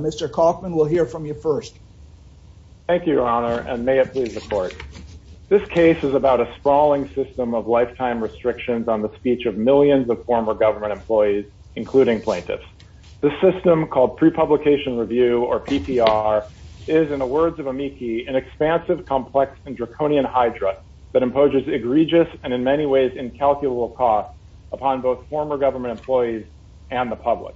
Mr. Kaufman, we'll hear from you first. Thank you, Your Honor, and may it please the Court. This case is about a sprawling system of lifetime restrictions on the speech of millions of former government employees, including plaintiffs. The system, called pre-publication review, or PPR, is, in the words of Amici, an expansive, complex, and draconian hydra that imposes egregious and in many ways incalculable costs upon both former government employees and the public.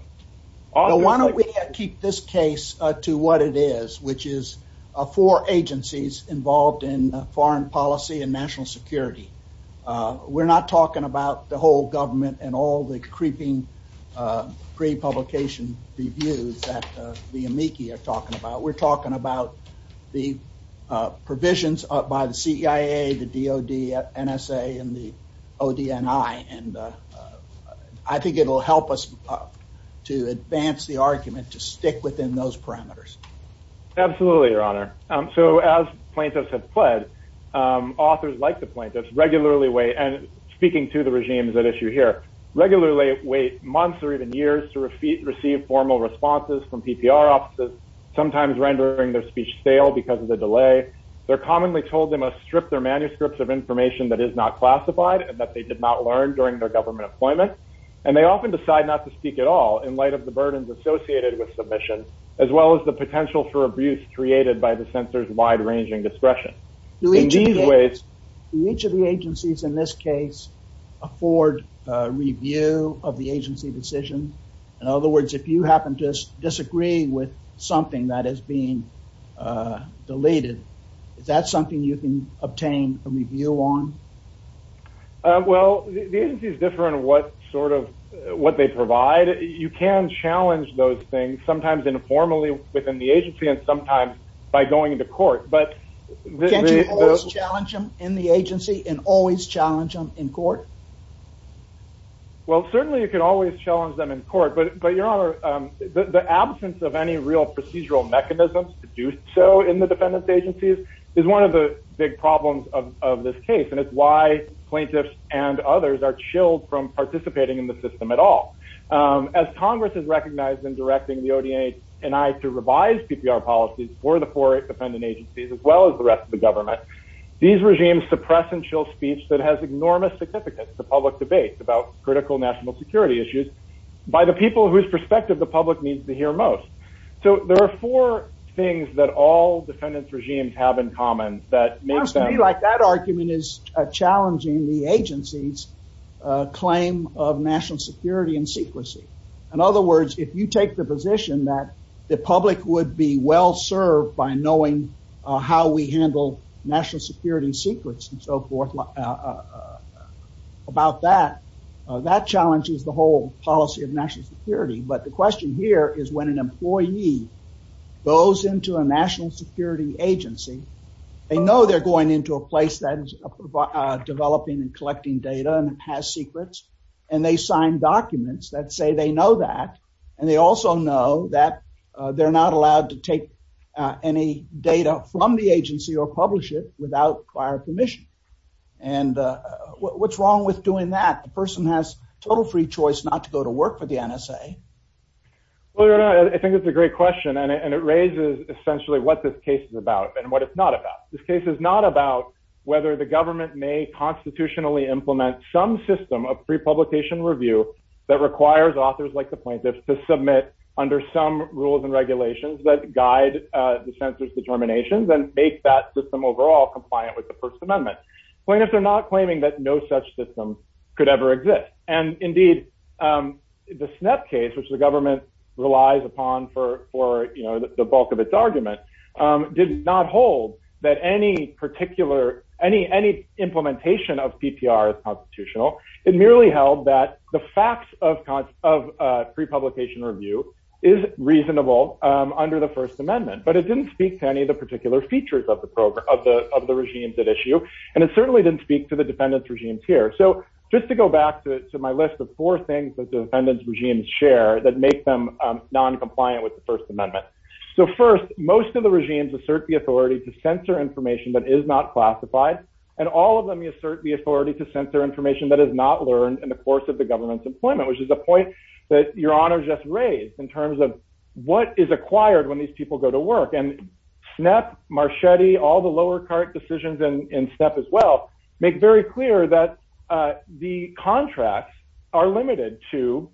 Now, why don't we keep this case to what it is, which is four agencies involved in foreign policy and national security. We're not talking about the whole government and all the creeping pre-publication reviews that the Amici are talking about. But we're talking about the provisions by the CIA, the DOD, NSA, and the ODNI. I think it will help us to advance the argument to stick within those parameters. Absolutely, Your Honor. So as plaintiffs have pled, authors like the plaintiffs regularly wait, and speaking to the regime is at issue here, regularly wait months or even years to receive formal responses from PPR offices, sometimes rendering their speech stale because of the delay. They're commonly told they must strip their manuscripts of information that is not classified and that they did not learn during their government employment. And they often decide not to speak at all in light of the burdens associated with submission, as well as the potential for abuse created by the censor's wide-ranging discretion. In these ways, do each of the agencies in this case afford review of the agency decision? In other words, if you happen to disagree with something that is being deleted, is that something you can obtain a review on? Well, the agency is different in what sort of, what they provide. You can challenge those things, sometimes informally within the agency and sometimes by going to court. But the- Can't you always challenge them in the agency and always challenge them in court? Well, certainly you can always challenge them in court, but your honor, the absence of any real procedural mechanisms to do so in the defendant's agencies is one of the big problems of this case. And it's why plaintiffs and others are chilled from participating in the system at all. As Congress has recognized in directing the ODA and I to revise PPR policies for the four defendant agencies, as well as the rest of the government, these regimes suppress and that has enormous significance to public debates about critical national security issues by the people whose perspective the public needs to hear most. So there are four things that all defendants regimes have in common that makes them- For us to be like that argument is challenging the agency's claim of national security and secrecy. In other words, if you take the position that the public would be well served by knowing how we handle national security secrets and so forth about that, that challenges the whole policy of national security. But the question here is when an employee goes into a national security agency, they know they're going into a place that is developing and collecting data and has secrets and they sign documents that say they know that. And they also know that they're not allowed to take any data from the agency or publish it without prior permission. And what's wrong with doing that? The person has total free choice not to go to work for the NSA. Well, I think it's a great question and it raises essentially what this case is about and what it's not about. This case is not about whether the government may constitutionally implement some system of pre-publication review that requires authors like the plaintiffs to submit under some rules and regulations that guide the censor's determinations and make that system overall compliant with the First Amendment. Plaintiffs are not claiming that no such system could ever exist. And indeed, the SNEP case, which the government relies upon for the bulk of its argument, did not hold that any particular any any implementation of PPR is constitutional. It merely held that the facts of of pre-publication review is reasonable under the First Amendment. But it didn't speak to any of the particular features of the program of the of the regimes at issue. And it certainly didn't speak to the defendants regimes here. So just to go back to my list of four things that the defendants regimes share that make them non-compliant with the First Amendment. So first, most of the regimes assert the authority to censor information that is not classified. And all of them assert the authority to censor information that is not learned in the course of the government's employment, which is a point that your honor just raised in terms of what is acquired when these people go to work. And SNEP, Marchetti, all the lower court decisions in SNEP as well make very clear that the contracts are limited to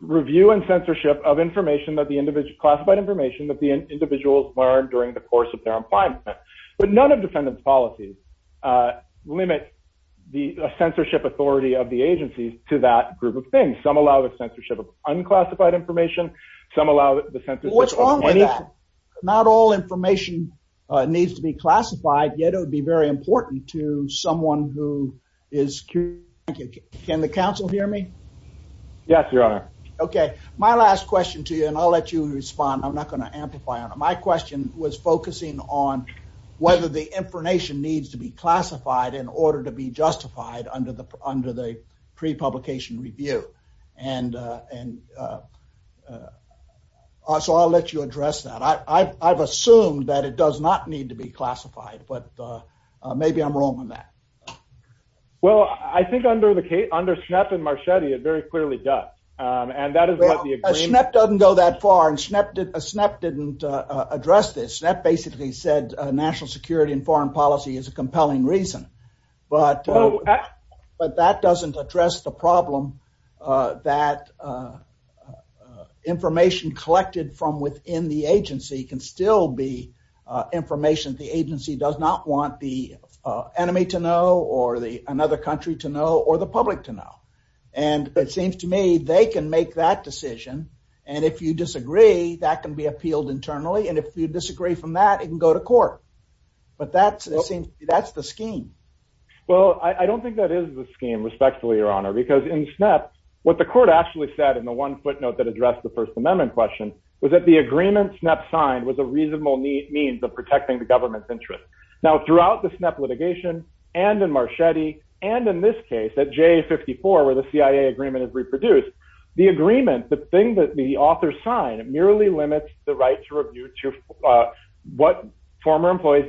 review and censorship of information that the individual classified information that the individuals learned during the course of their employment. But none of defendants policies limit the censorship authority of the agencies to that group of things. Some allow the censorship of unclassified information. Some allow the censorship of anything. What's wrong with that? Not all information needs to be classified, yet it would be very important to someone who is. Can the council hear me? Yes, your honor. OK, my last question to you and I'll let you respond. I'm not going to amplify on it. My question was focusing on whether the information needs to be classified in order to be justified under the under the pre-publication review. And and so I'll let you address that. I've assumed that it does not need to be classified, but maybe I'm wrong on that. Well, I think under the case, under Schnapp and Marchetti, it very clearly does. And that is what the agreement doesn't go that far. And Schnapp didn't Schnapp didn't address this. Schnapp basically said national security and foreign policy is a compelling reason. But but that doesn't address the problem that information collected from within the agency can still be information. The agency does not want the enemy to know or the another country to know or the public to know. And it seems to me they can make that decision. And if you disagree, that can be appealed internally. And if you disagree from that, it can go to court. But that's that's the scheme. Well, I don't think that is the scheme, respectfully, your honor, because in Schnapp, what the court actually said in the one footnote that addressed the First Amendment question was that the agreement Schnapp signed was a reasonable means of protecting the government's interest. Now, throughout the Schnapp litigation and in Marchetti and in this case, at J54, where the CIA agreement is reproduced, the agreement, the thing that the author signed merely limits the right to review to what former employees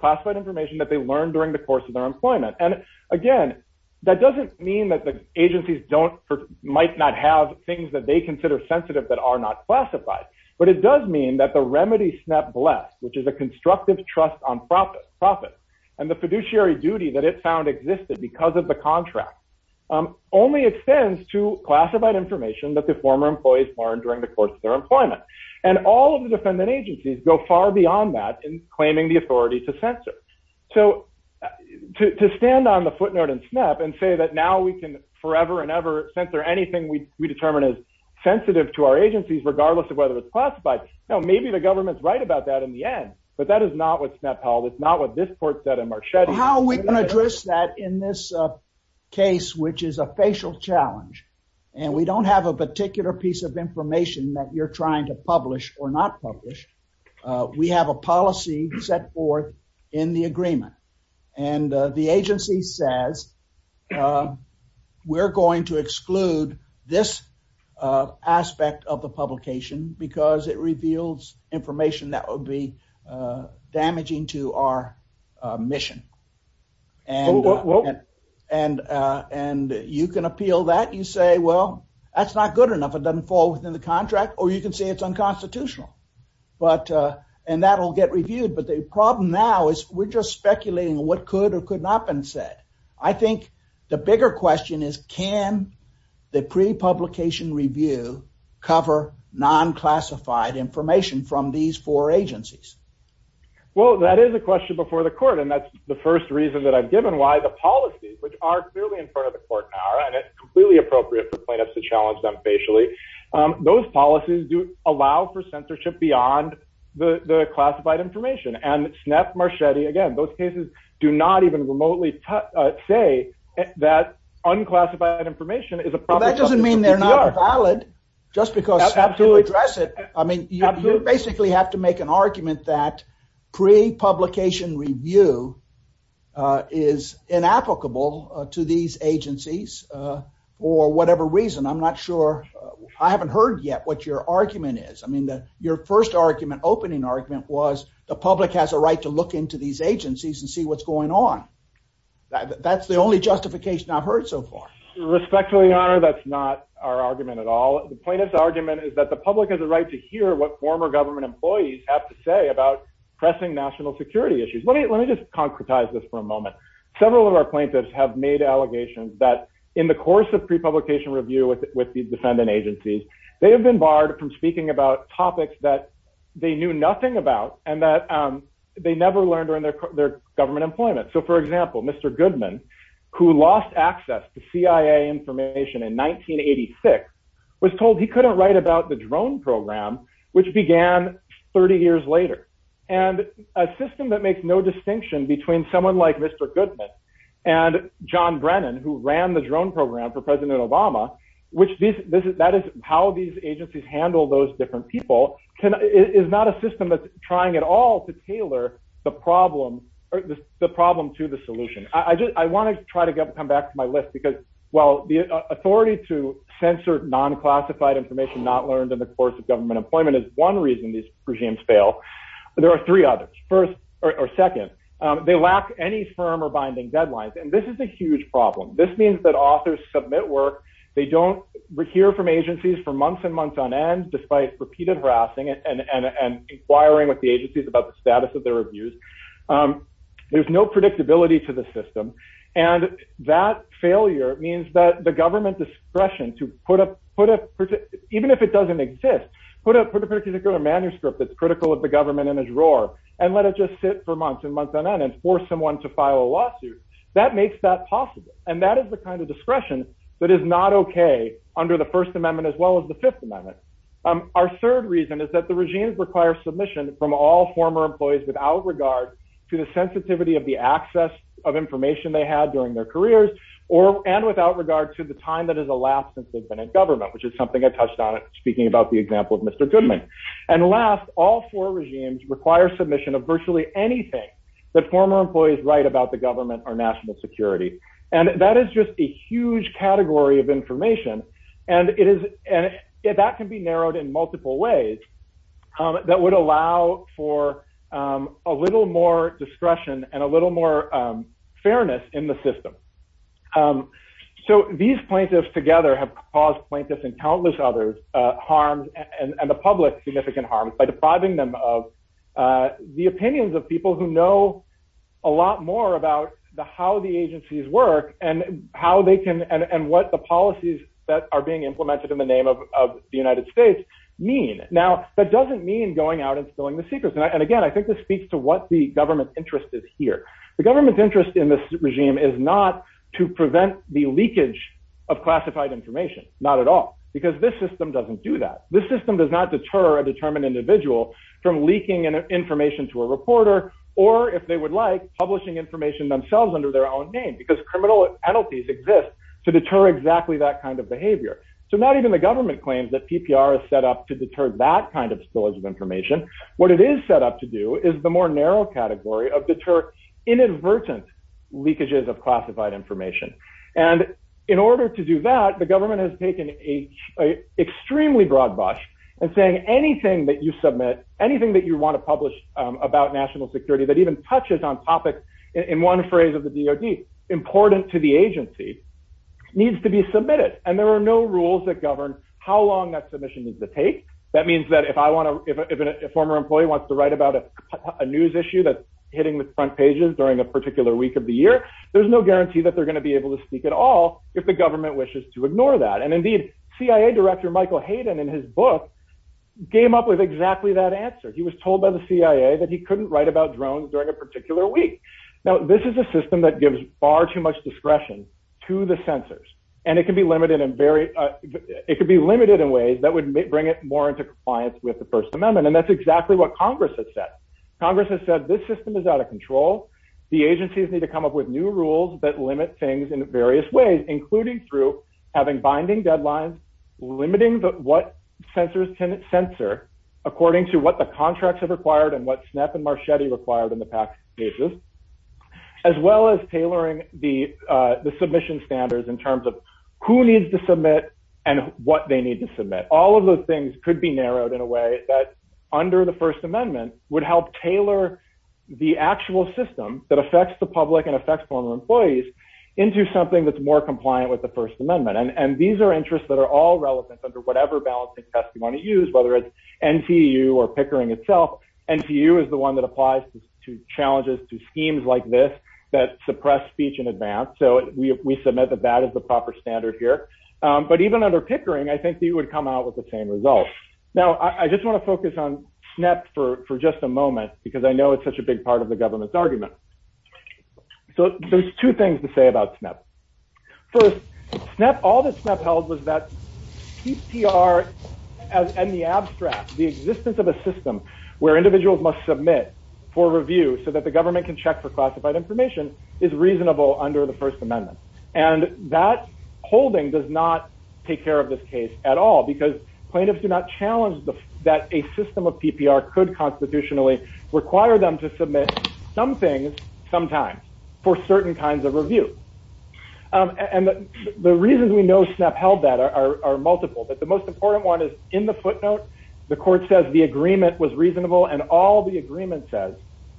classified information that they learned during the course of their employment. And again, that doesn't mean that the agencies don't might not have things that they consider sensitive that are not classified. But it does mean that the remedy Schnapp blessed, which is a constructive trust on profit profit and the fiduciary duty that it found existed because of the contract, only extends to classified information that the former employees learned during the course of their employment. And all of the defendant agencies go far beyond that in claiming the authority to censor. So to stand on the footnote in Schnapp and say that now we can forever and ever censor anything we determine is sensitive to our agencies, regardless of whether it's classified. Now, maybe the government's right about that in the end, but that is not what Schnapp held. It's not what this court said in Marchetti. How we can address that in this case, which is a facial challenge and we don't have a particular piece of information that you're trying to publish or not publish. We have a policy set forth in the agreement and the agency says we're going to exclude this aspect of the publication because it reveals information that would be damaging to our mission. And and and you can appeal that you say, well, that's not good enough. It doesn't fall within the contract or you can say it's unconstitutional. But and that will get reviewed. But the problem now is we're just speculating what could or could not been said. I think the bigger question is, can the pre-publication review cover non-classified information from these four agencies? Well, that is a question before the court, and that's the first reason that I've given why the policies, which are clearly in front of the court now and it's completely appropriate for plaintiffs to challenge them facially. Those policies do allow for censorship beyond the classified information. And SNEP, Marchetti, again, those cases do not even remotely say that unclassified information is a problem. That doesn't mean they're not valid just because to address it. I mean, you basically have to make an argument that pre-publication review is inapplicable to these agencies for whatever reason. I'm not sure. I haven't heard yet what your argument is. I mean, your first argument, opening argument was the public has a right to look into these agencies and see what's going on. That's the only justification I've heard so far. Respectfully, Your Honor, that's not our argument at all. The plaintiff's argument is that the public has a right to hear what former government employees have to say about pressing national security issues. Let me just concretize this for a moment. Several of our plaintiffs have made allegations that in the course of pre-publication review with the defendant agencies, they have been barred from speaking about topics that they knew nothing about and that they never learned during their government employment. So, for example, Mr. Goodman, who lost access to CIA information in 1986, was told he couldn't write about the drone program, which began 30 years later. And a system that makes no distinction between someone like Mr. Goodman and John Brennan, who ran the drone program for President Obama, which this is that is how these agencies handle those different people, is not a system that's trying at all to tailor the problem or the problem to the solution. I just I want to try to come back to my list because, well, the authority to censor non-classified information not learned in the course of government employment is one reason these regimes fail. There are three others. First or second. They lack any firm or binding deadlines. And this is a huge problem. This means that authors submit work. They don't hear from agencies for months and months on end, despite repeated harassing and inquiring with the agencies about the status of their reviews. There's no predictability to the system. And that failure means that the government discretion to put up, even if it doesn't exist, put a particular manuscript that's critical of the government in a drawer and let it just sit for months and months on end and force someone to file a lawsuit that makes that possible. And that is the kind of discretion that is not OK under the First Amendment, as well as the Fifth Amendment. Our third reason is that the regime requires submission from all former employees without regard to the sensitivity of the access of information they had during their careers or and without regard to the time that is elapsed since they've been in government, which is something I touched on it speaking about the example of Mr. Goodman. And last, all four regimes require submission of virtually anything that former employees write about the government or national security. And that is just a huge category of information. And it is that can be narrowed in multiple ways that would allow for a little more discretion and a little more fairness in the system. So these plaintiffs together have caused plaintiffs and countless others harm and the public significant harm by depriving them of the opinions of people who know a lot more about the how the agencies work and how they can and what the policies that are being implemented in the name of the United States mean. Now, that doesn't mean going out and spilling the secrets. And again, I think this speaks to what the government interest is here. The government's interest in this regime is not to prevent the leakage of classified information, not at all, because this system doesn't do that. This system does not deter a determined individual from leaking information to a reporter or if they would like publishing information themselves under their own name, because criminal penalties exist to deter exactly that kind of behavior. So not even the government claims that PPR is set up to deter that kind of spillage of inadvertent leakages of classified information. And in order to do that, the government has taken a extremely broad brush and saying anything that you submit, anything that you want to publish about national security that even touches on topics in one phrase of the DOD important to the agency needs to be submitted. And there are no rules that govern how long that submission needs to take. That means that if I want to if a former employee wants to write about a news issue that's on the front pages during a particular week of the year, there's no guarantee that they're going to be able to speak at all if the government wishes to ignore that. And indeed, CIA Director Michael Hayden in his book came up with exactly that answer. He was told by the CIA that he couldn't write about drones during a particular week. Now, this is a system that gives far too much discretion to the censors, and it can be limited in very it could be limited in ways that would bring it more into compliance with the First Amendment. And that's exactly what Congress has said. Congress has said this system is out of control. The agencies need to come up with new rules that limit things in various ways, including through having binding deadlines, limiting what censors can censor according to what the contracts have required and what SNAP and Marchetti required in the PAC cases, as well as tailoring the submission standards in terms of who needs to submit and what they need to submit. All of those things could be narrowed in a way that under the First Amendment would help tailor the actual system that affects the public and affects former employees into something that's more compliant with the First Amendment. And these are interests that are all relevant under whatever balancing test you want to use, whether it's NTU or Pickering itself. NTU is the one that applies to challenges to schemes like this that suppress speech in advance. So we submit that that is the proper standard here. But even under Pickering, I think they would come out with the same results. Now, I just want to focus on SNAP for just a moment because I know it's such a big part of the government's argument. So there's two things to say about SNAP. First, all that SNAP held was that CPR and the abstract, the existence of a system where individuals must submit for review so that the government can check for classified information is reasonable under the First Amendment. And that holding does not take care of this case at all because plaintiffs do not challenge that a system of PPR could constitutionally require them to submit some things sometimes for certain kinds of review. And the reasons we know SNAP held that are multiple, but the most important one is in the footnote, the court says the agreement was reasonable and all the agreement says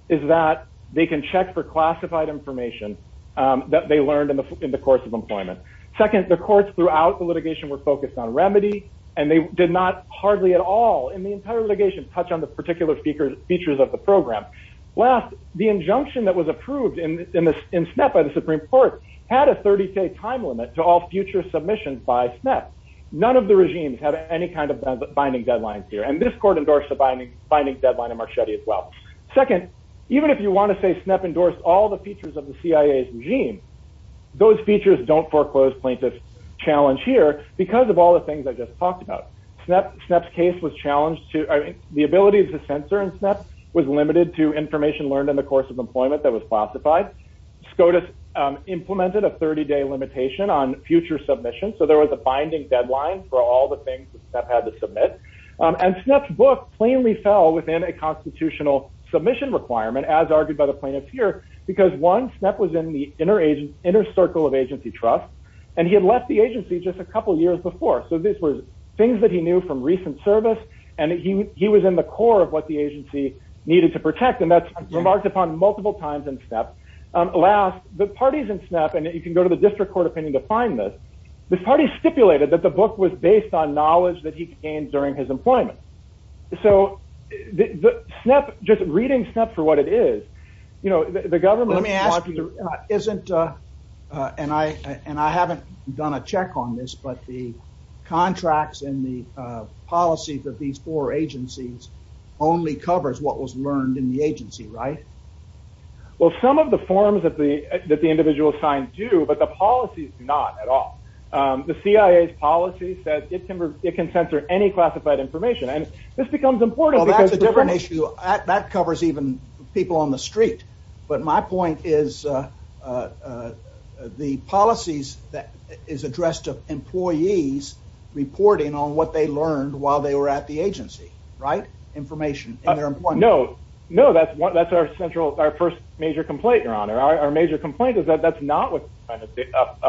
is that they can check for classified information that they learned in the course of employment. Second, the courts throughout the litigation were focused on remedy and they did not hardly at all in the entire litigation touch on the particular features of the program. Last, the injunction that was approved in SNAP by the Supreme Court had a 30 day time limit to all future submissions by SNAP. None of the regimes have any kind of binding deadlines here. And this court endorsed the binding deadline in Marchetti as well. Second, even if you want to say SNAP endorsed all the features of the CIA's regime, those features don't foreclose plaintiffs challenge here because of all the things I just talked about. SNAP's case was challenged to the ability of the censor and SNAP was limited to information learned in the course of employment that was classified. SCOTUS implemented a 30 day limitation on future submission. So there was a binding deadline for all the things that had to submit. And SNAP's book plainly fell within a constitutional submission requirement, as argued by the plaintiffs here, because one, SNAP was in the inner circle of agency trust and he had left the agency just a couple of years before. So these were things that he knew from recent service and he was in the core of what the agency needed to protect. And that's remarked upon multiple times in SNAP. Last, the parties in SNAP, and you can go to the district court opinion to find this, the employment. So just reading SNAP for what it is, you know, the government isn't and I haven't done a check on this, but the contracts and the policies of these four agencies only covers what was learned in the agency, right? Well, some of the forms that the that the individual signs do, but the policies not at the CIA's policy says it can it can censor any classified information. And this becomes important. That's a different issue that covers even people on the street. But my point is, the policies that is addressed to employees reporting on what they learned while they were at the agency, right? Information. No, no, that's what that's our central our first major complaint, Your Honor, our major complaint is that that's not what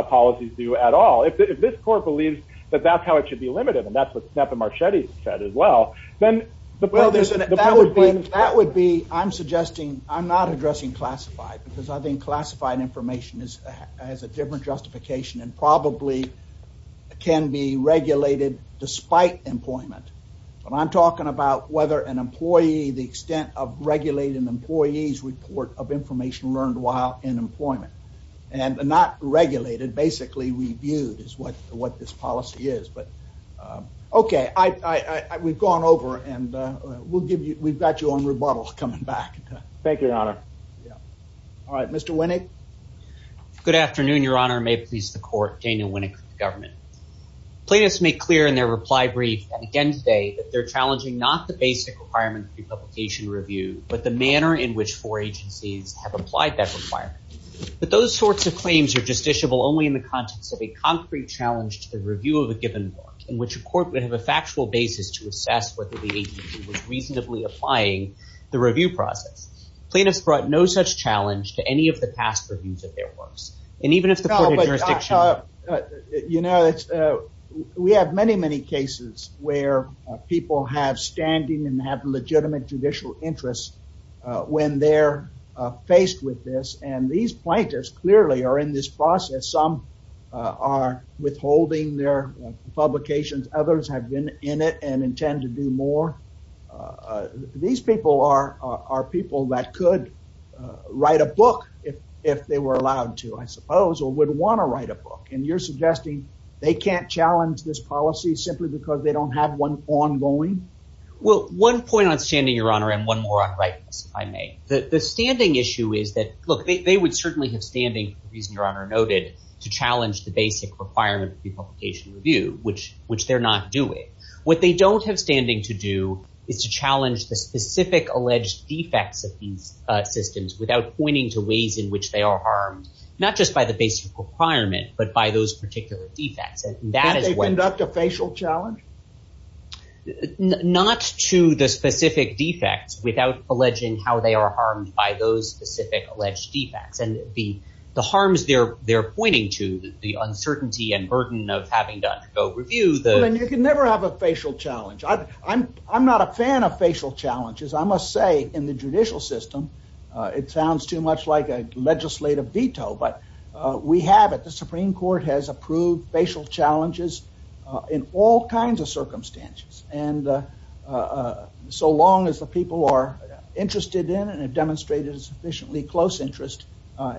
policies do at all. If this court believes that that's how it should be limited, and that's what SNAP and Marchetti said as well, then the Well, that would be that would be I'm suggesting I'm not addressing classified because I think classified information is as a different justification and probably can be regulated despite employment. But I'm talking about whether an employee the extent of regulating an employee's report of information learned while in employment and not regulated, basically reviewed is what what this policy is. But okay, I we've gone over and we'll give you we've got your own rebuttal coming back. Thank you, Your Honor. All right, Mr. Winnick. Good afternoon, Your Honor. May it please the court, Daniel Winnick, government. Plaintiffs make clear in their reply brief again today that they're challenging not the basic requirement for publication review, but the manner in which four agencies have applied that requirement. But those sorts of claims are justiciable only in the context of a concrete challenge to the review of a given work in which a court would have a factual basis to assess whether the agency was reasonably applying the review process. Plaintiffs brought no such challenge to any of the past reviews of their works. And even if the jurisdiction, you know, we have many, many cases where people have standing and have legitimate judicial interests when they're faced with this. And these plaintiffs clearly are in this process. Some are withholding their publications. Others have been in it and intend to do more. These people are, are people that could write a book if, if they were allowed to, I suppose, or would want to write a book. And you're suggesting they can't challenge this policy simply because they don't have one ongoing? Well, one point on standing, Your Honor, and one more on rightness, if I may. The standing issue is that, look, they would certainly have standing, the reason Your Honor noted, to challenge the basic requirement of the publication review, which they're not doing. What they don't have standing to do is to challenge the specific alleged defects of these systems without pointing to ways in which they are harmed, not just by the basic requirement, but by those particular defects. And that is what... Do they conduct a facial challenge? Not to the specific defects without alleging how they are harmed by those specific alleged defects. And the harms they're pointing to, the uncertainty and burden of having to undergo review... Well, then you can never have a facial challenge. I'm not a fan of facial challenges. I say in the judicial system, it sounds too much like a legislative veto, but we have it. The Supreme Court has approved facial challenges in all kinds of circumstances. And so long as the people are interested in and have demonstrated sufficiently close interest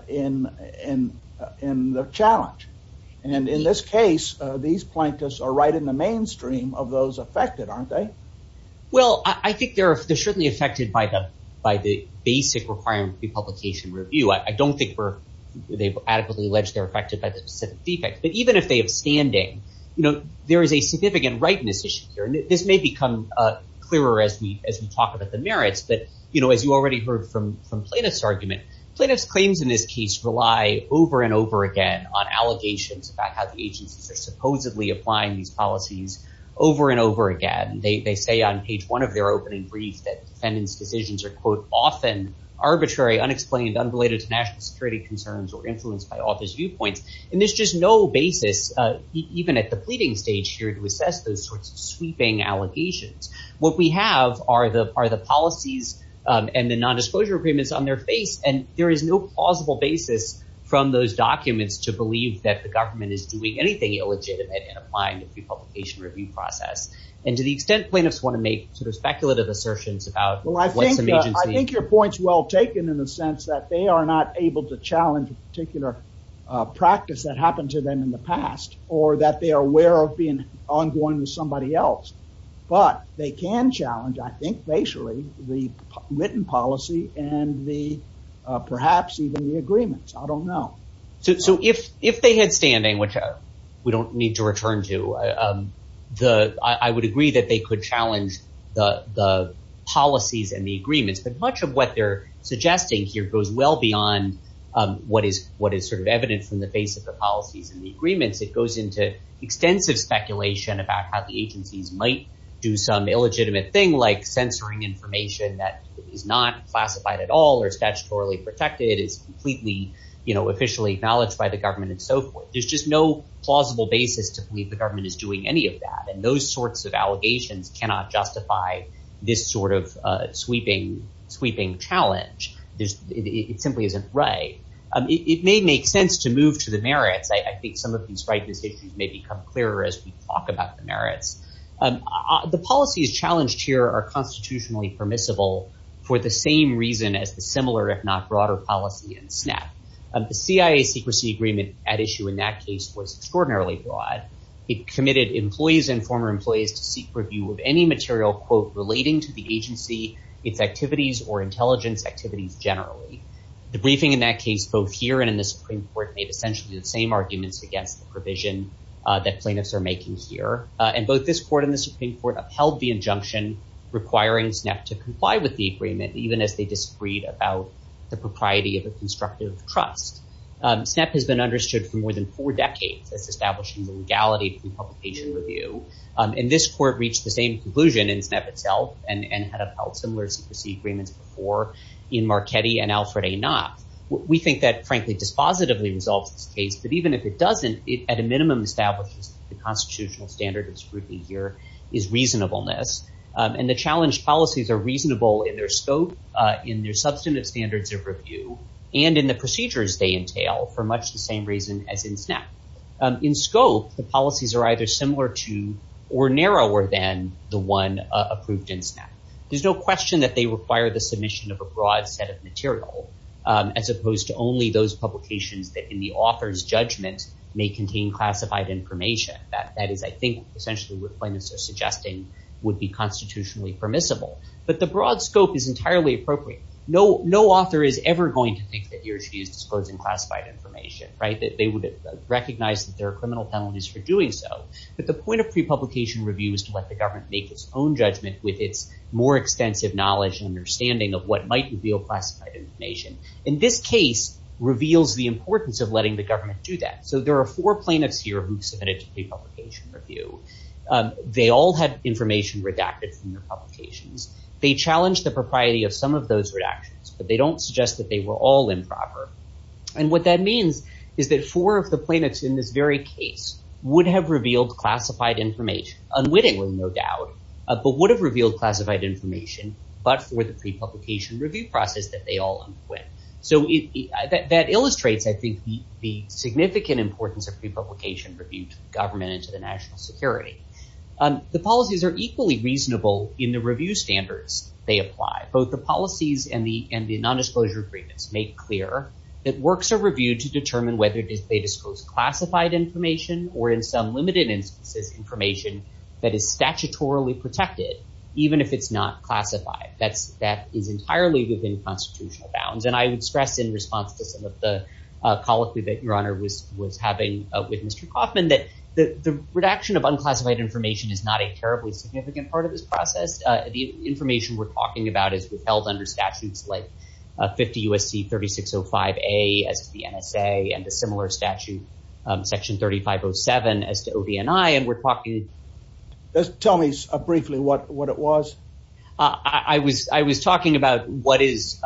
in the challenge. And in this case, these plaintiffs are right in the mainstream of those affected, aren't they? Well, I think they're certainly affected by the basic requirement of the publication review. I don't think they've adequately alleged they're affected by the specific defects, but even if they have standing, there is a significant rightness issue here. And this may become clearer as we talk about the merits, but as you already heard from plaintiff's argument, plaintiff's claims in this case rely over and over again on allegations about how the agencies are supposedly applying these policies over and over again. They say on page one of their opening brief that defendant's decisions are quote, often arbitrary, unexplained, unrelated to national security concerns or influenced by office viewpoints. And there's just no basis, even at the pleading stage here to assess those sorts of sweeping allegations. What we have are the policies and the nondisclosure agreements on their face. And there is no plausible basis from those documents to the government is doing anything illegitimate in applying the pre-publication review process. And to the extent plaintiffs want to make sort of speculative assertions about- Well, I think your point's well taken in the sense that they are not able to challenge a particular practice that happened to them in the past, or that they are aware of being ongoing with somebody else. But they can challenge, I think basically, the written policy and perhaps even the agreements. I don't know. So if they had standing, which we don't need to return to, I would agree that they could challenge the policies and the agreements. But much of what they're suggesting here goes well beyond what is sort of evidence from the base of the policies and the agreements. It goes into extensive speculation about how the agencies might do some illegitimate thing like censoring information that is not classified at all or statutorily protected. It's completely officially acknowledged by the government and so forth. There's just no plausible basis to believe the government is doing any of that. And those sorts of allegations cannot justify this sort of sweeping challenge. It simply isn't right. It may make sense to move to the merits. I think some of these rightness issues may become clearer as we talk about the merits. The policies challenged here are constitutionally permissible for the same reason as the similar, if not broader, policy in SNAP. The CIA secrecy agreement at issue in that case was extraordinarily broad. It committed employees and former employees to seek review of any material relating to the agency, its activities, or intelligence activities generally. The briefing in that case, both here and in the Supreme Court, made essentially the same arguments against the provision that plaintiffs are making here. And both this court and the Supreme Court upheld the injunction requiring SNAP to comply with the agreement even as they disagreed about the propriety of a constructive trust. SNAP has been understood for more than four decades as establishing the legality of the publication review. And this court reached the same conclusion in SNAP itself and had upheld similar secrecy agreements before in Marchetti and Alfred A. Knopf. We think that, frankly, dispositively resolves this case. But even if it doesn't, it at a minimum establishes the constitutional standard of scrutiny here is reasonableness. And the challenged policies are reasonable in their scope in their substantive standards of review and in the procedures they entail for much the same reason as in SNAP. In scope, the policies are either similar to or narrower than the one approved in SNAP. There's no question that they require the submission of a broad set of material as opposed to only those publications that in the author's judgment may contain classified information. That is, I think, essentially what plaintiffs are suggesting would be constitutionally permissible. But the broad scope is entirely appropriate. No author is ever going to think that he or she is disclosing classified information, that they would recognize that there are criminal penalties for doing so. But the point of prepublication review is to let the government make its own judgment with its more extensive knowledge and understanding of what might reveal classified information. And this case reveals the importance of letting the government do that. So there are four plaintiffs here who submitted to prepublication review. They all had information redacted from their publications. They challenged the propriety of some of those redactions, but they don't suggest that they were all improper. And what that means is that four of the plaintiffs in this very case would have revealed classified information, unwittingly, no doubt, but would have revealed classified information, but for the prepublication review process that they all underwent. So that illustrates, I think, the significant importance of prepublication review to the government and to the national security. The policies are equally reasonable in the review standards they apply. Both the policies and the nondisclosure agreements make clear that works are reviewed to determine whether they disclose classified information, or in some limited instances, information that is statutorily protected, even if it's not classified. That is entirely within constitutional bounds. And I would stress in response to some of the colloquy that your honor was having with Mr. Kaufman, that the redaction of unclassified information is not a terribly significant part of this process. The information we're talking about is withheld under statutes like 50 U.S.C. 3605A as the NSA, and a similar statute, section 3507 as to OBNI, and we're talking... Just tell me briefly what it was. I was talking about what is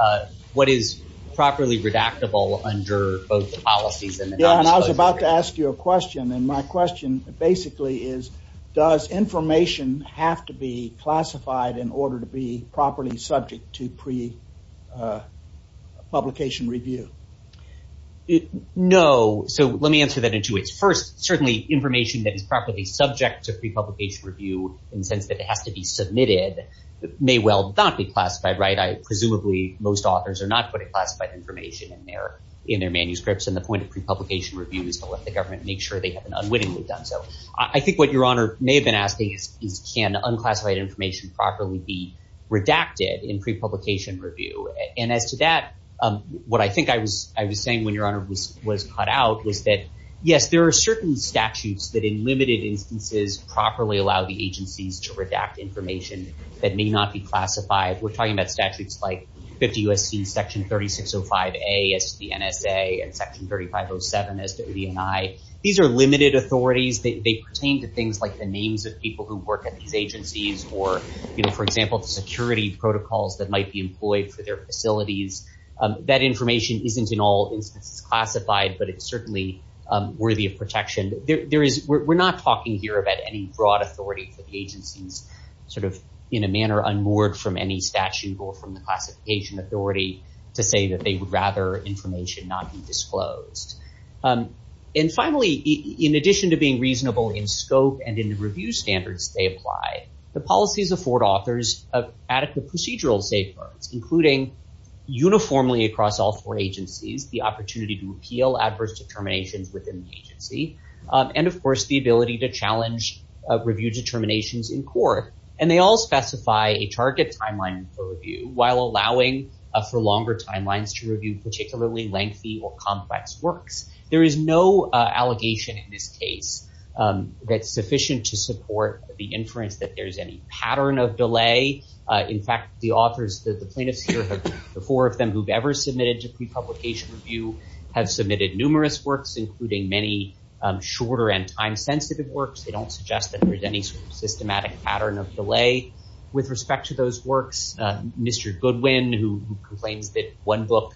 properly redactable under both the policies and the nondisclosure... Yeah, and I was about to ask you a question, and my question basically is, does information have to be classified in order to be properly subject to prepublication review? No. So let me answer that in two ways. First, certainly information that is properly subject to prepublication review in the sense that it has to be submitted may well not be classified, right? Presumably most authors are not putting classified information in their manuscripts, and the point of prepublication review is to let the government make sure they have an unwittingly done so. I think what your honor may have been asking is, can unclassified information properly be redacted in prepublication review? And as to that, what I think I was saying when your honor was cut out was that, yes, there are certain statutes that in limited instances properly allow the agencies to redact information that may not be classified. We're talking about statutes like 50 U.S.C. section 3605A as to the NSA and section 3507 as to OBNI. These are limited authorities. They pertain to things like the names of people who work at these agencies or, you know, for example, the security protocols that might be employed for their facilities. That information isn't in all instances classified, but it's certainly worthy of protection. We're not talking here about any broad authority for the agencies sort of in a manner unmoored from any statute or from the classification authority to say that they would rather information not be disclosed. And finally, in addition to being reasonable in scope and in the review standards they apply, the policies afford authors adequate procedural safeguards, including uniformly across all four agencies, the opportunity to appeal adverse determinations within the agency, and of course, the ability to challenge review determinations in court. And they all specify a target timeline for review while allowing for longer timelines to review particularly lengthy or complex works. There is no allegation in this case that's sufficient to the four of them who've ever submitted to pre-publication review have submitted numerous works, including many shorter and time-sensitive works. They don't suggest that there's any sort of systematic pattern of delay with respect to those works. Mr. Goodwin, who complains that one book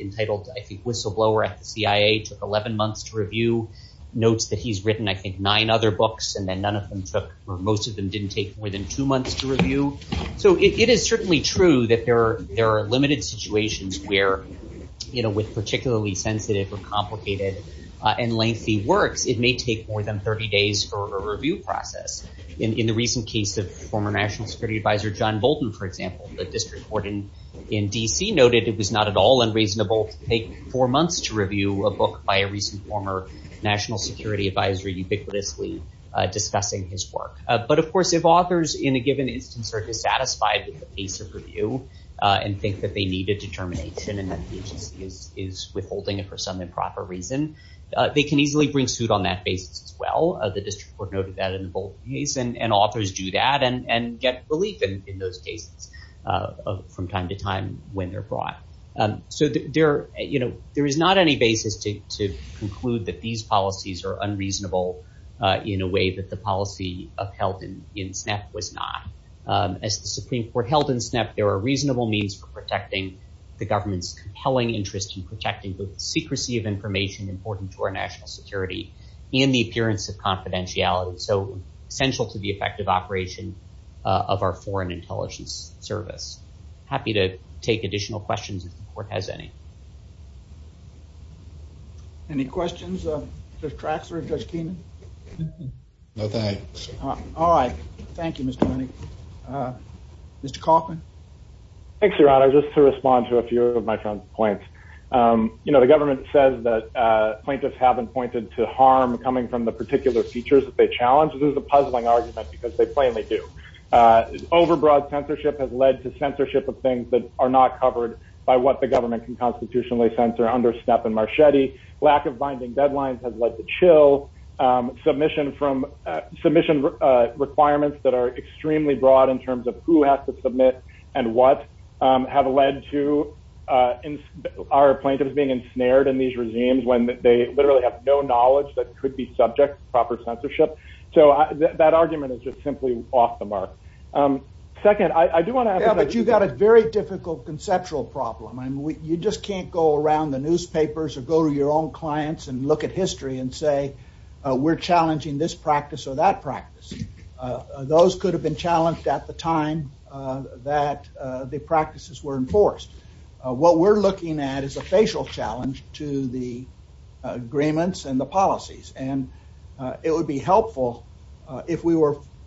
entitled, I think, Whistleblower at the CIA took 11 months to review, notes that he's written, I think, nine other books and then none of them took or most of them didn't take more than two months to review. So it is certainly true that there are limited situations where with particularly sensitive or complicated and lengthy works, it may take more than 30 days for a review process. In the recent case of former National Security Advisor John Bolton, for example, the district court in DC noted it was not at all unreasonable to take four months to review a book by a recent former National Security Advisor ubiquitously discussing his work. But of course, if authors in a given instance are dissatisfied with the pace of review and think that they need a determination and that the agency is withholding it for some improper reason, they can easily bring suit on that basis as well. The district court noted that in the Bolton case and authors do that and get relief in those cases from time to time when they're brought. So there is not any basis to conclude that these policies are unreasonable in a way that the policy upheld in SNEP was not. As the Supreme Court held in SNEP, there are reasonable means for protecting the government's compelling interest in protecting the secrecy of information important to our national security and the appearance of confidentiality. So essential to the effective operation of our foreign intelligence service. Happy to take additional questions if the court has any. Any questions of Judge Traxler, Judge Keenan? No, thanks. All right. Thank you, Mr. Keeney. Mr. Kaufman? Thanks, Your Honor. Just to respond to a few of my friends' points. You know, the government says that plaintiffs haven't pointed to harm coming from the particular features that they challenge. This is a puzzling argument because they plainly do. Overbroad censorship has led to censorship of things that are not covered by what the government can constitutionally censor under SNEP and Marchetti. Lack of binding deadlines has led to chill. Submission requirements that are extremely broad in terms of who has to submit and what have led to our plaintiffs being ensnared in these regimes when they literally have no knowledge that could be subject to proper censorship. So that argument is just simply off the mark. Second, I do want to add that you got a very difficult conceptual problem. I mean, you just can't go around the newspapers or go to your own clients and look at history and say, we're challenging this practice or that practice. Those could have been challenged at the time that the practices were enforced. What we're looking at is a facial challenge to the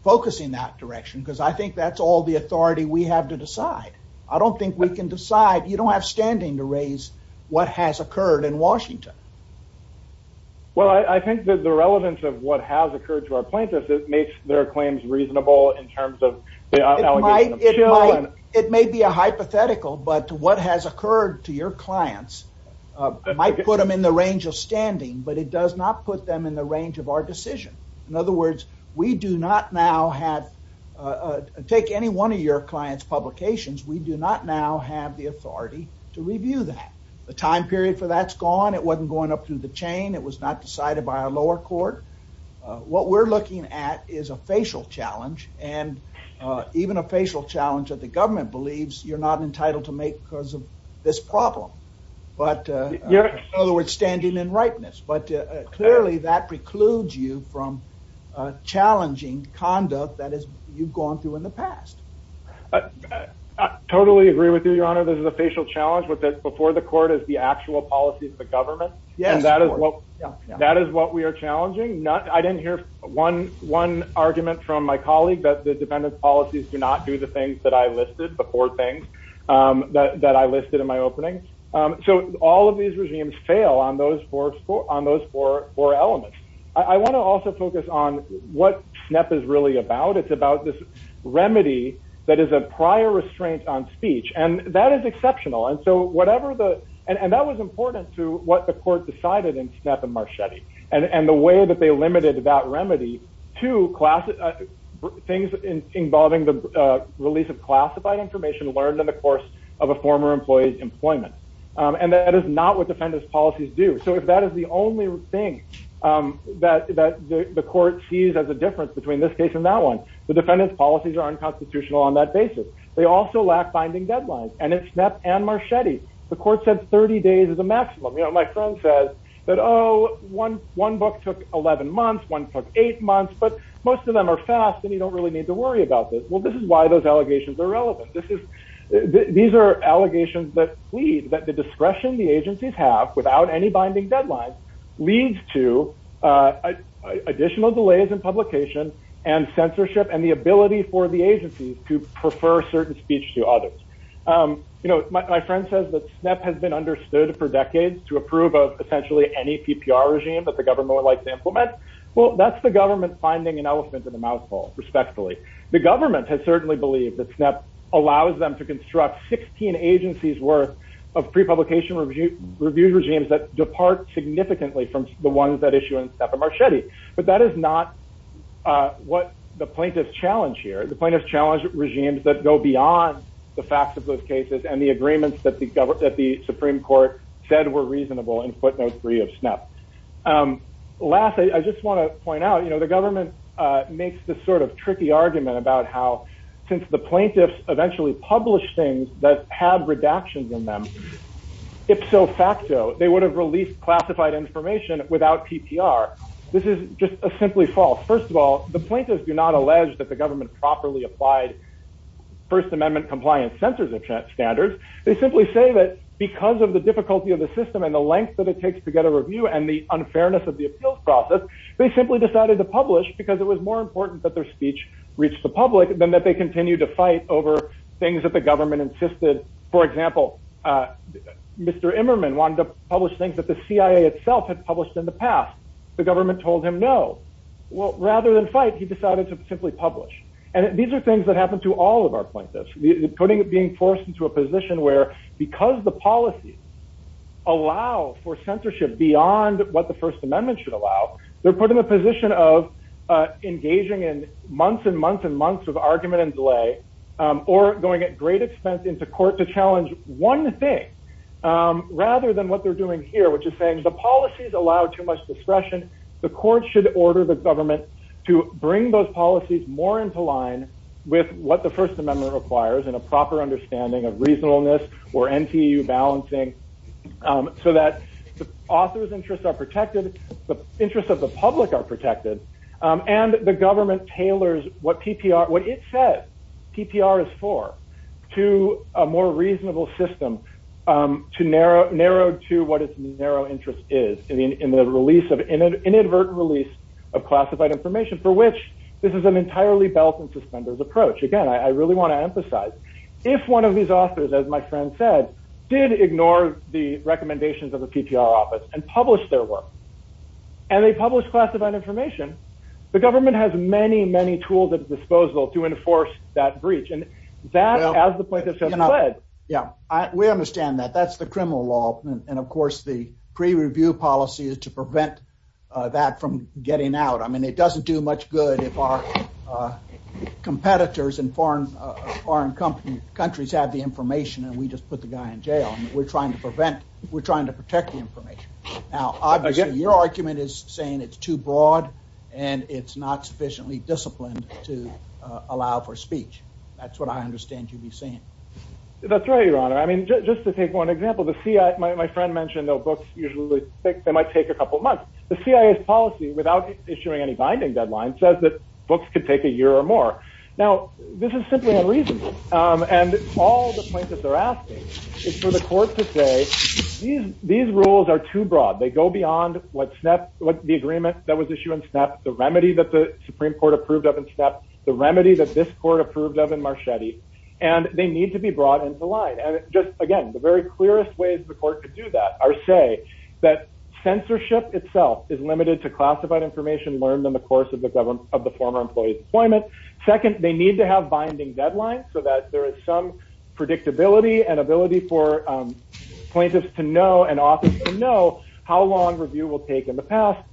I think that's all the authority we have to decide. I don't think we can decide. You don't have standing to raise what has occurred in Washington. Well, I think that the relevance of what has occurred to our plaintiffs, it makes their claims reasonable in terms of It may be a hypothetical, but what has occurred to your clients might put them in the range of standing, but it does not put them in the range of our decision. In other words, we do not now have to take any one of your clients' publications. We do not now have the authority to review that. The time period for that's gone. It wasn't going up through the chain. It was not decided by our lower court. What we're looking at is a facial challenge and even a facial challenge that the government believes you're not entitled to make because of this problem. In other words, standing in rightness. But clearly, that precludes you from challenging conduct that is you've gone through in the past. I totally agree with you, Your Honor. This is a facial challenge with it before the court is the actual policy of the government. And that is what that is what we are challenging. Not I didn't hear one one argument from my colleague that the dependent policies do not do the things that I listed before things that I listed in my opening. So all of these regimes fail on those four on those four elements. I want to also focus on what SNEP is really about. It's about this remedy that is a prior restraint on speech. And that is exceptional. And so whatever the and that was important to what the court decided in SNEP and Marchetti and the way that they limited that remedy to classic things involving the release of classified information learned in the course of a former employee's employment. And that is not what defendant's policies do. So if that is the only thing that the court sees as a difference between this case and that one, the defendant's policies are unconstitutional on that basis. They also lack binding deadlines. And it's SNEP and Marchetti. The court said 30 days is a maximum. You know, my friend said that, oh, one one book took 11 months, one took eight months, but most of them are fast and you don't really need to worry about this. Well, this is why those allegations are relevant. This is these are allegations that plead that the discretion the agencies have without any binding deadline leads to additional delays in publication and censorship and the ability for the agencies to prefer certain speech to others. You know, my friend says that SNEP has been understood for decades to approve of essentially any PPR regime that the government would like to implement. Well, that's the government finding an elephant in the mouthful, respectfully. The government has certainly believed that SNEP allows them to construct 16 agencies worth of pre-publication review regimes that depart significantly from the ones that issue in SNEP and Marchetti. But that is not what the plaintiff's challenge here. The plaintiff's challenge regimes that go beyond the facts of those cases and the agreements that the Supreme Court said were reasonable in footnote three of SNEP. Last, I just want to point out, the government makes this sort of tricky argument about how since the plaintiffs eventually published things that had redactions in them, ipso facto, they would have released classified information without PPR. This is just a simply false. First of all, the plaintiffs do not allege that the government properly applied first amendment compliance censors of standards. They simply say that because of the difficulty of the system and the length that it takes to review and the unfairness of the appeals process, they simply decided to publish because it was more important that their speech reached the public than that they continued to fight over things that the government insisted. For example, Mr. Emmerman wanted to publish things that the CIA itself had published in the past. The government told him no. Well, rather than fight, he decided to simply publish. And these are things that happen to all of our plaintiffs, putting it, forced into a position where, because the policies allow for censorship beyond what the first amendment should allow, they're put in a position of engaging in months and months and months of argument and delay, or going at great expense into court to challenge one thing, rather than what they're doing here, which is saying the policies allow too much discretion. The court should order the government to bring those policies more into line with what the first amendment requires, and a proper understanding of reasonableness or NTU balancing, so that the author's interests are protected, the interests of the public are protected, and the government tailors what PPR, what it says PPR is for, to a more reasonable system, to narrow, narrowed to what its narrow interest is, in the release of, in an inadvertent release of classified information, for which this is an entirely belt-and-suspenders approach. Again, I really want to emphasize, if one of these authors, as my friend said, did ignore the recommendations of the PPR office and publish their work, and they publish classified information, the government has many, many tools at its disposal to enforce that breach. And that, as the plaintiffs have said, fled. Yeah, we understand that. That's the criminal law. And, of course, the pre-review policy is to much good if our competitors in foreign countries have the information, and we just put the guy in jail. We're trying to prevent, we're trying to protect the information. Now, obviously, your argument is saying it's too broad, and it's not sufficiently disciplined to allow for speech. That's what I understand you'd be saying. That's right, your honor. I mean, just to take one example, the CIA, my friend mentioned, though, books usually, they might take a couple of months. The CIA's policy, without issuing any binding deadline, says that books could take a year or more. Now, this is simply unreasonable. And all the plaintiffs are asking is for the court to say, these rules are too broad. They go beyond what the agreement that was issued in SNAP, the remedy that the Supreme Court approved of in SNAP, the remedy that this court approved of in Marchetti, and they need to be brought into light. And just, again, the very clearest ways the court could do that are say that censorship itself is limited to classified information learned in the course of the former employee's deployment. Second, they need to have binding deadlines so that there is some predictability and ability for plaintiffs to know and office to know how long review will take in the past,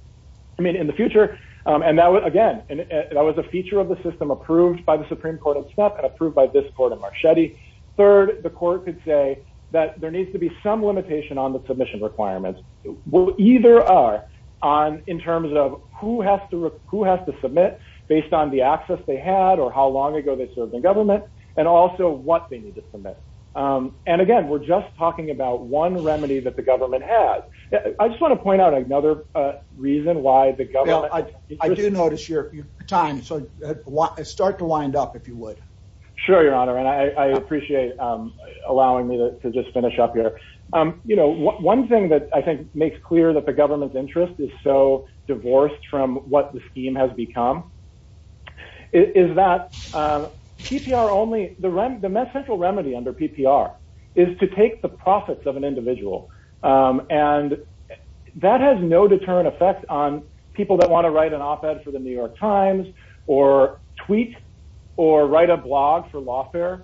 I mean, in the future. And that would, again, that was a feature of the system approved by the Supreme Court of SNAP and approved by this court in Marchetti. Third, the court could say that there needs to be some limitation on the submission requirements. Well, either are on in terms of who has to submit based on the access they had or how long ago they served in government, and also what they need to submit. And again, we're just talking about one remedy that the government has. I just want to point out another reason why the government- Yeah, I do notice your time, so start to wind up if you would. Sure, Your Honor, and I appreciate allowing me to just finish up here. One thing that I think makes clear that the government's interest is so divorced from what the scheme has become is that PPR only, the central remedy under PPR is to take the profits of an individual. And that has no deterrent effect on people that want to write an op-ed for the New York Times or tweet or write a blog for lawfare.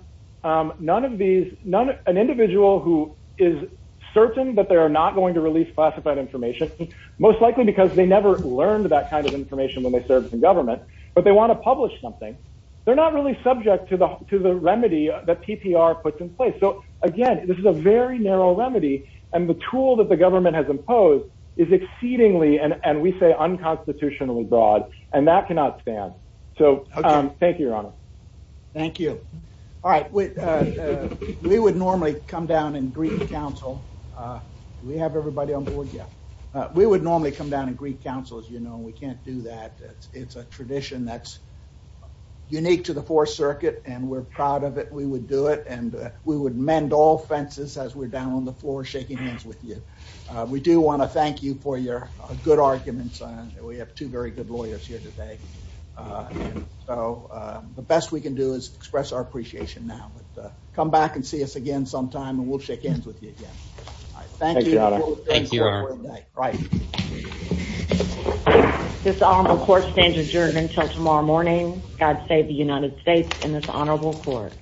None of these, an individual who is certain that they're not going to release classified information, most likely because they never learned that kind of information when they served in government, but they want to publish something, they're not really subject to the remedy that PPR puts in place. So again, this is a very narrow remedy and the tool that the government has imposed is exceedingly, and we say unconstitutionally broad, and that cannot stand. So thank you, Your Honor. Thank you. All right, we would normally come down in Greek Council. Do we have everybody on board? Yeah. We would normally come down in Greek Council, as you know, and we can't do that. It's a tradition that's unique to the Fourth Circuit, and we're proud of it. We would do it, and we would mend all fences as we're down on the floor shaking hands with you. We do want to thank you for your good arguments. We have two very good lawyers here today, and so the best we can do is express our appreciation now, but come back and see us again sometime, and we'll shake hands with you again. Thank you, Your Honor. Thank you, Your Honor. This honorable court stands adjourned until tomorrow morning. God save the United States and this honorable court.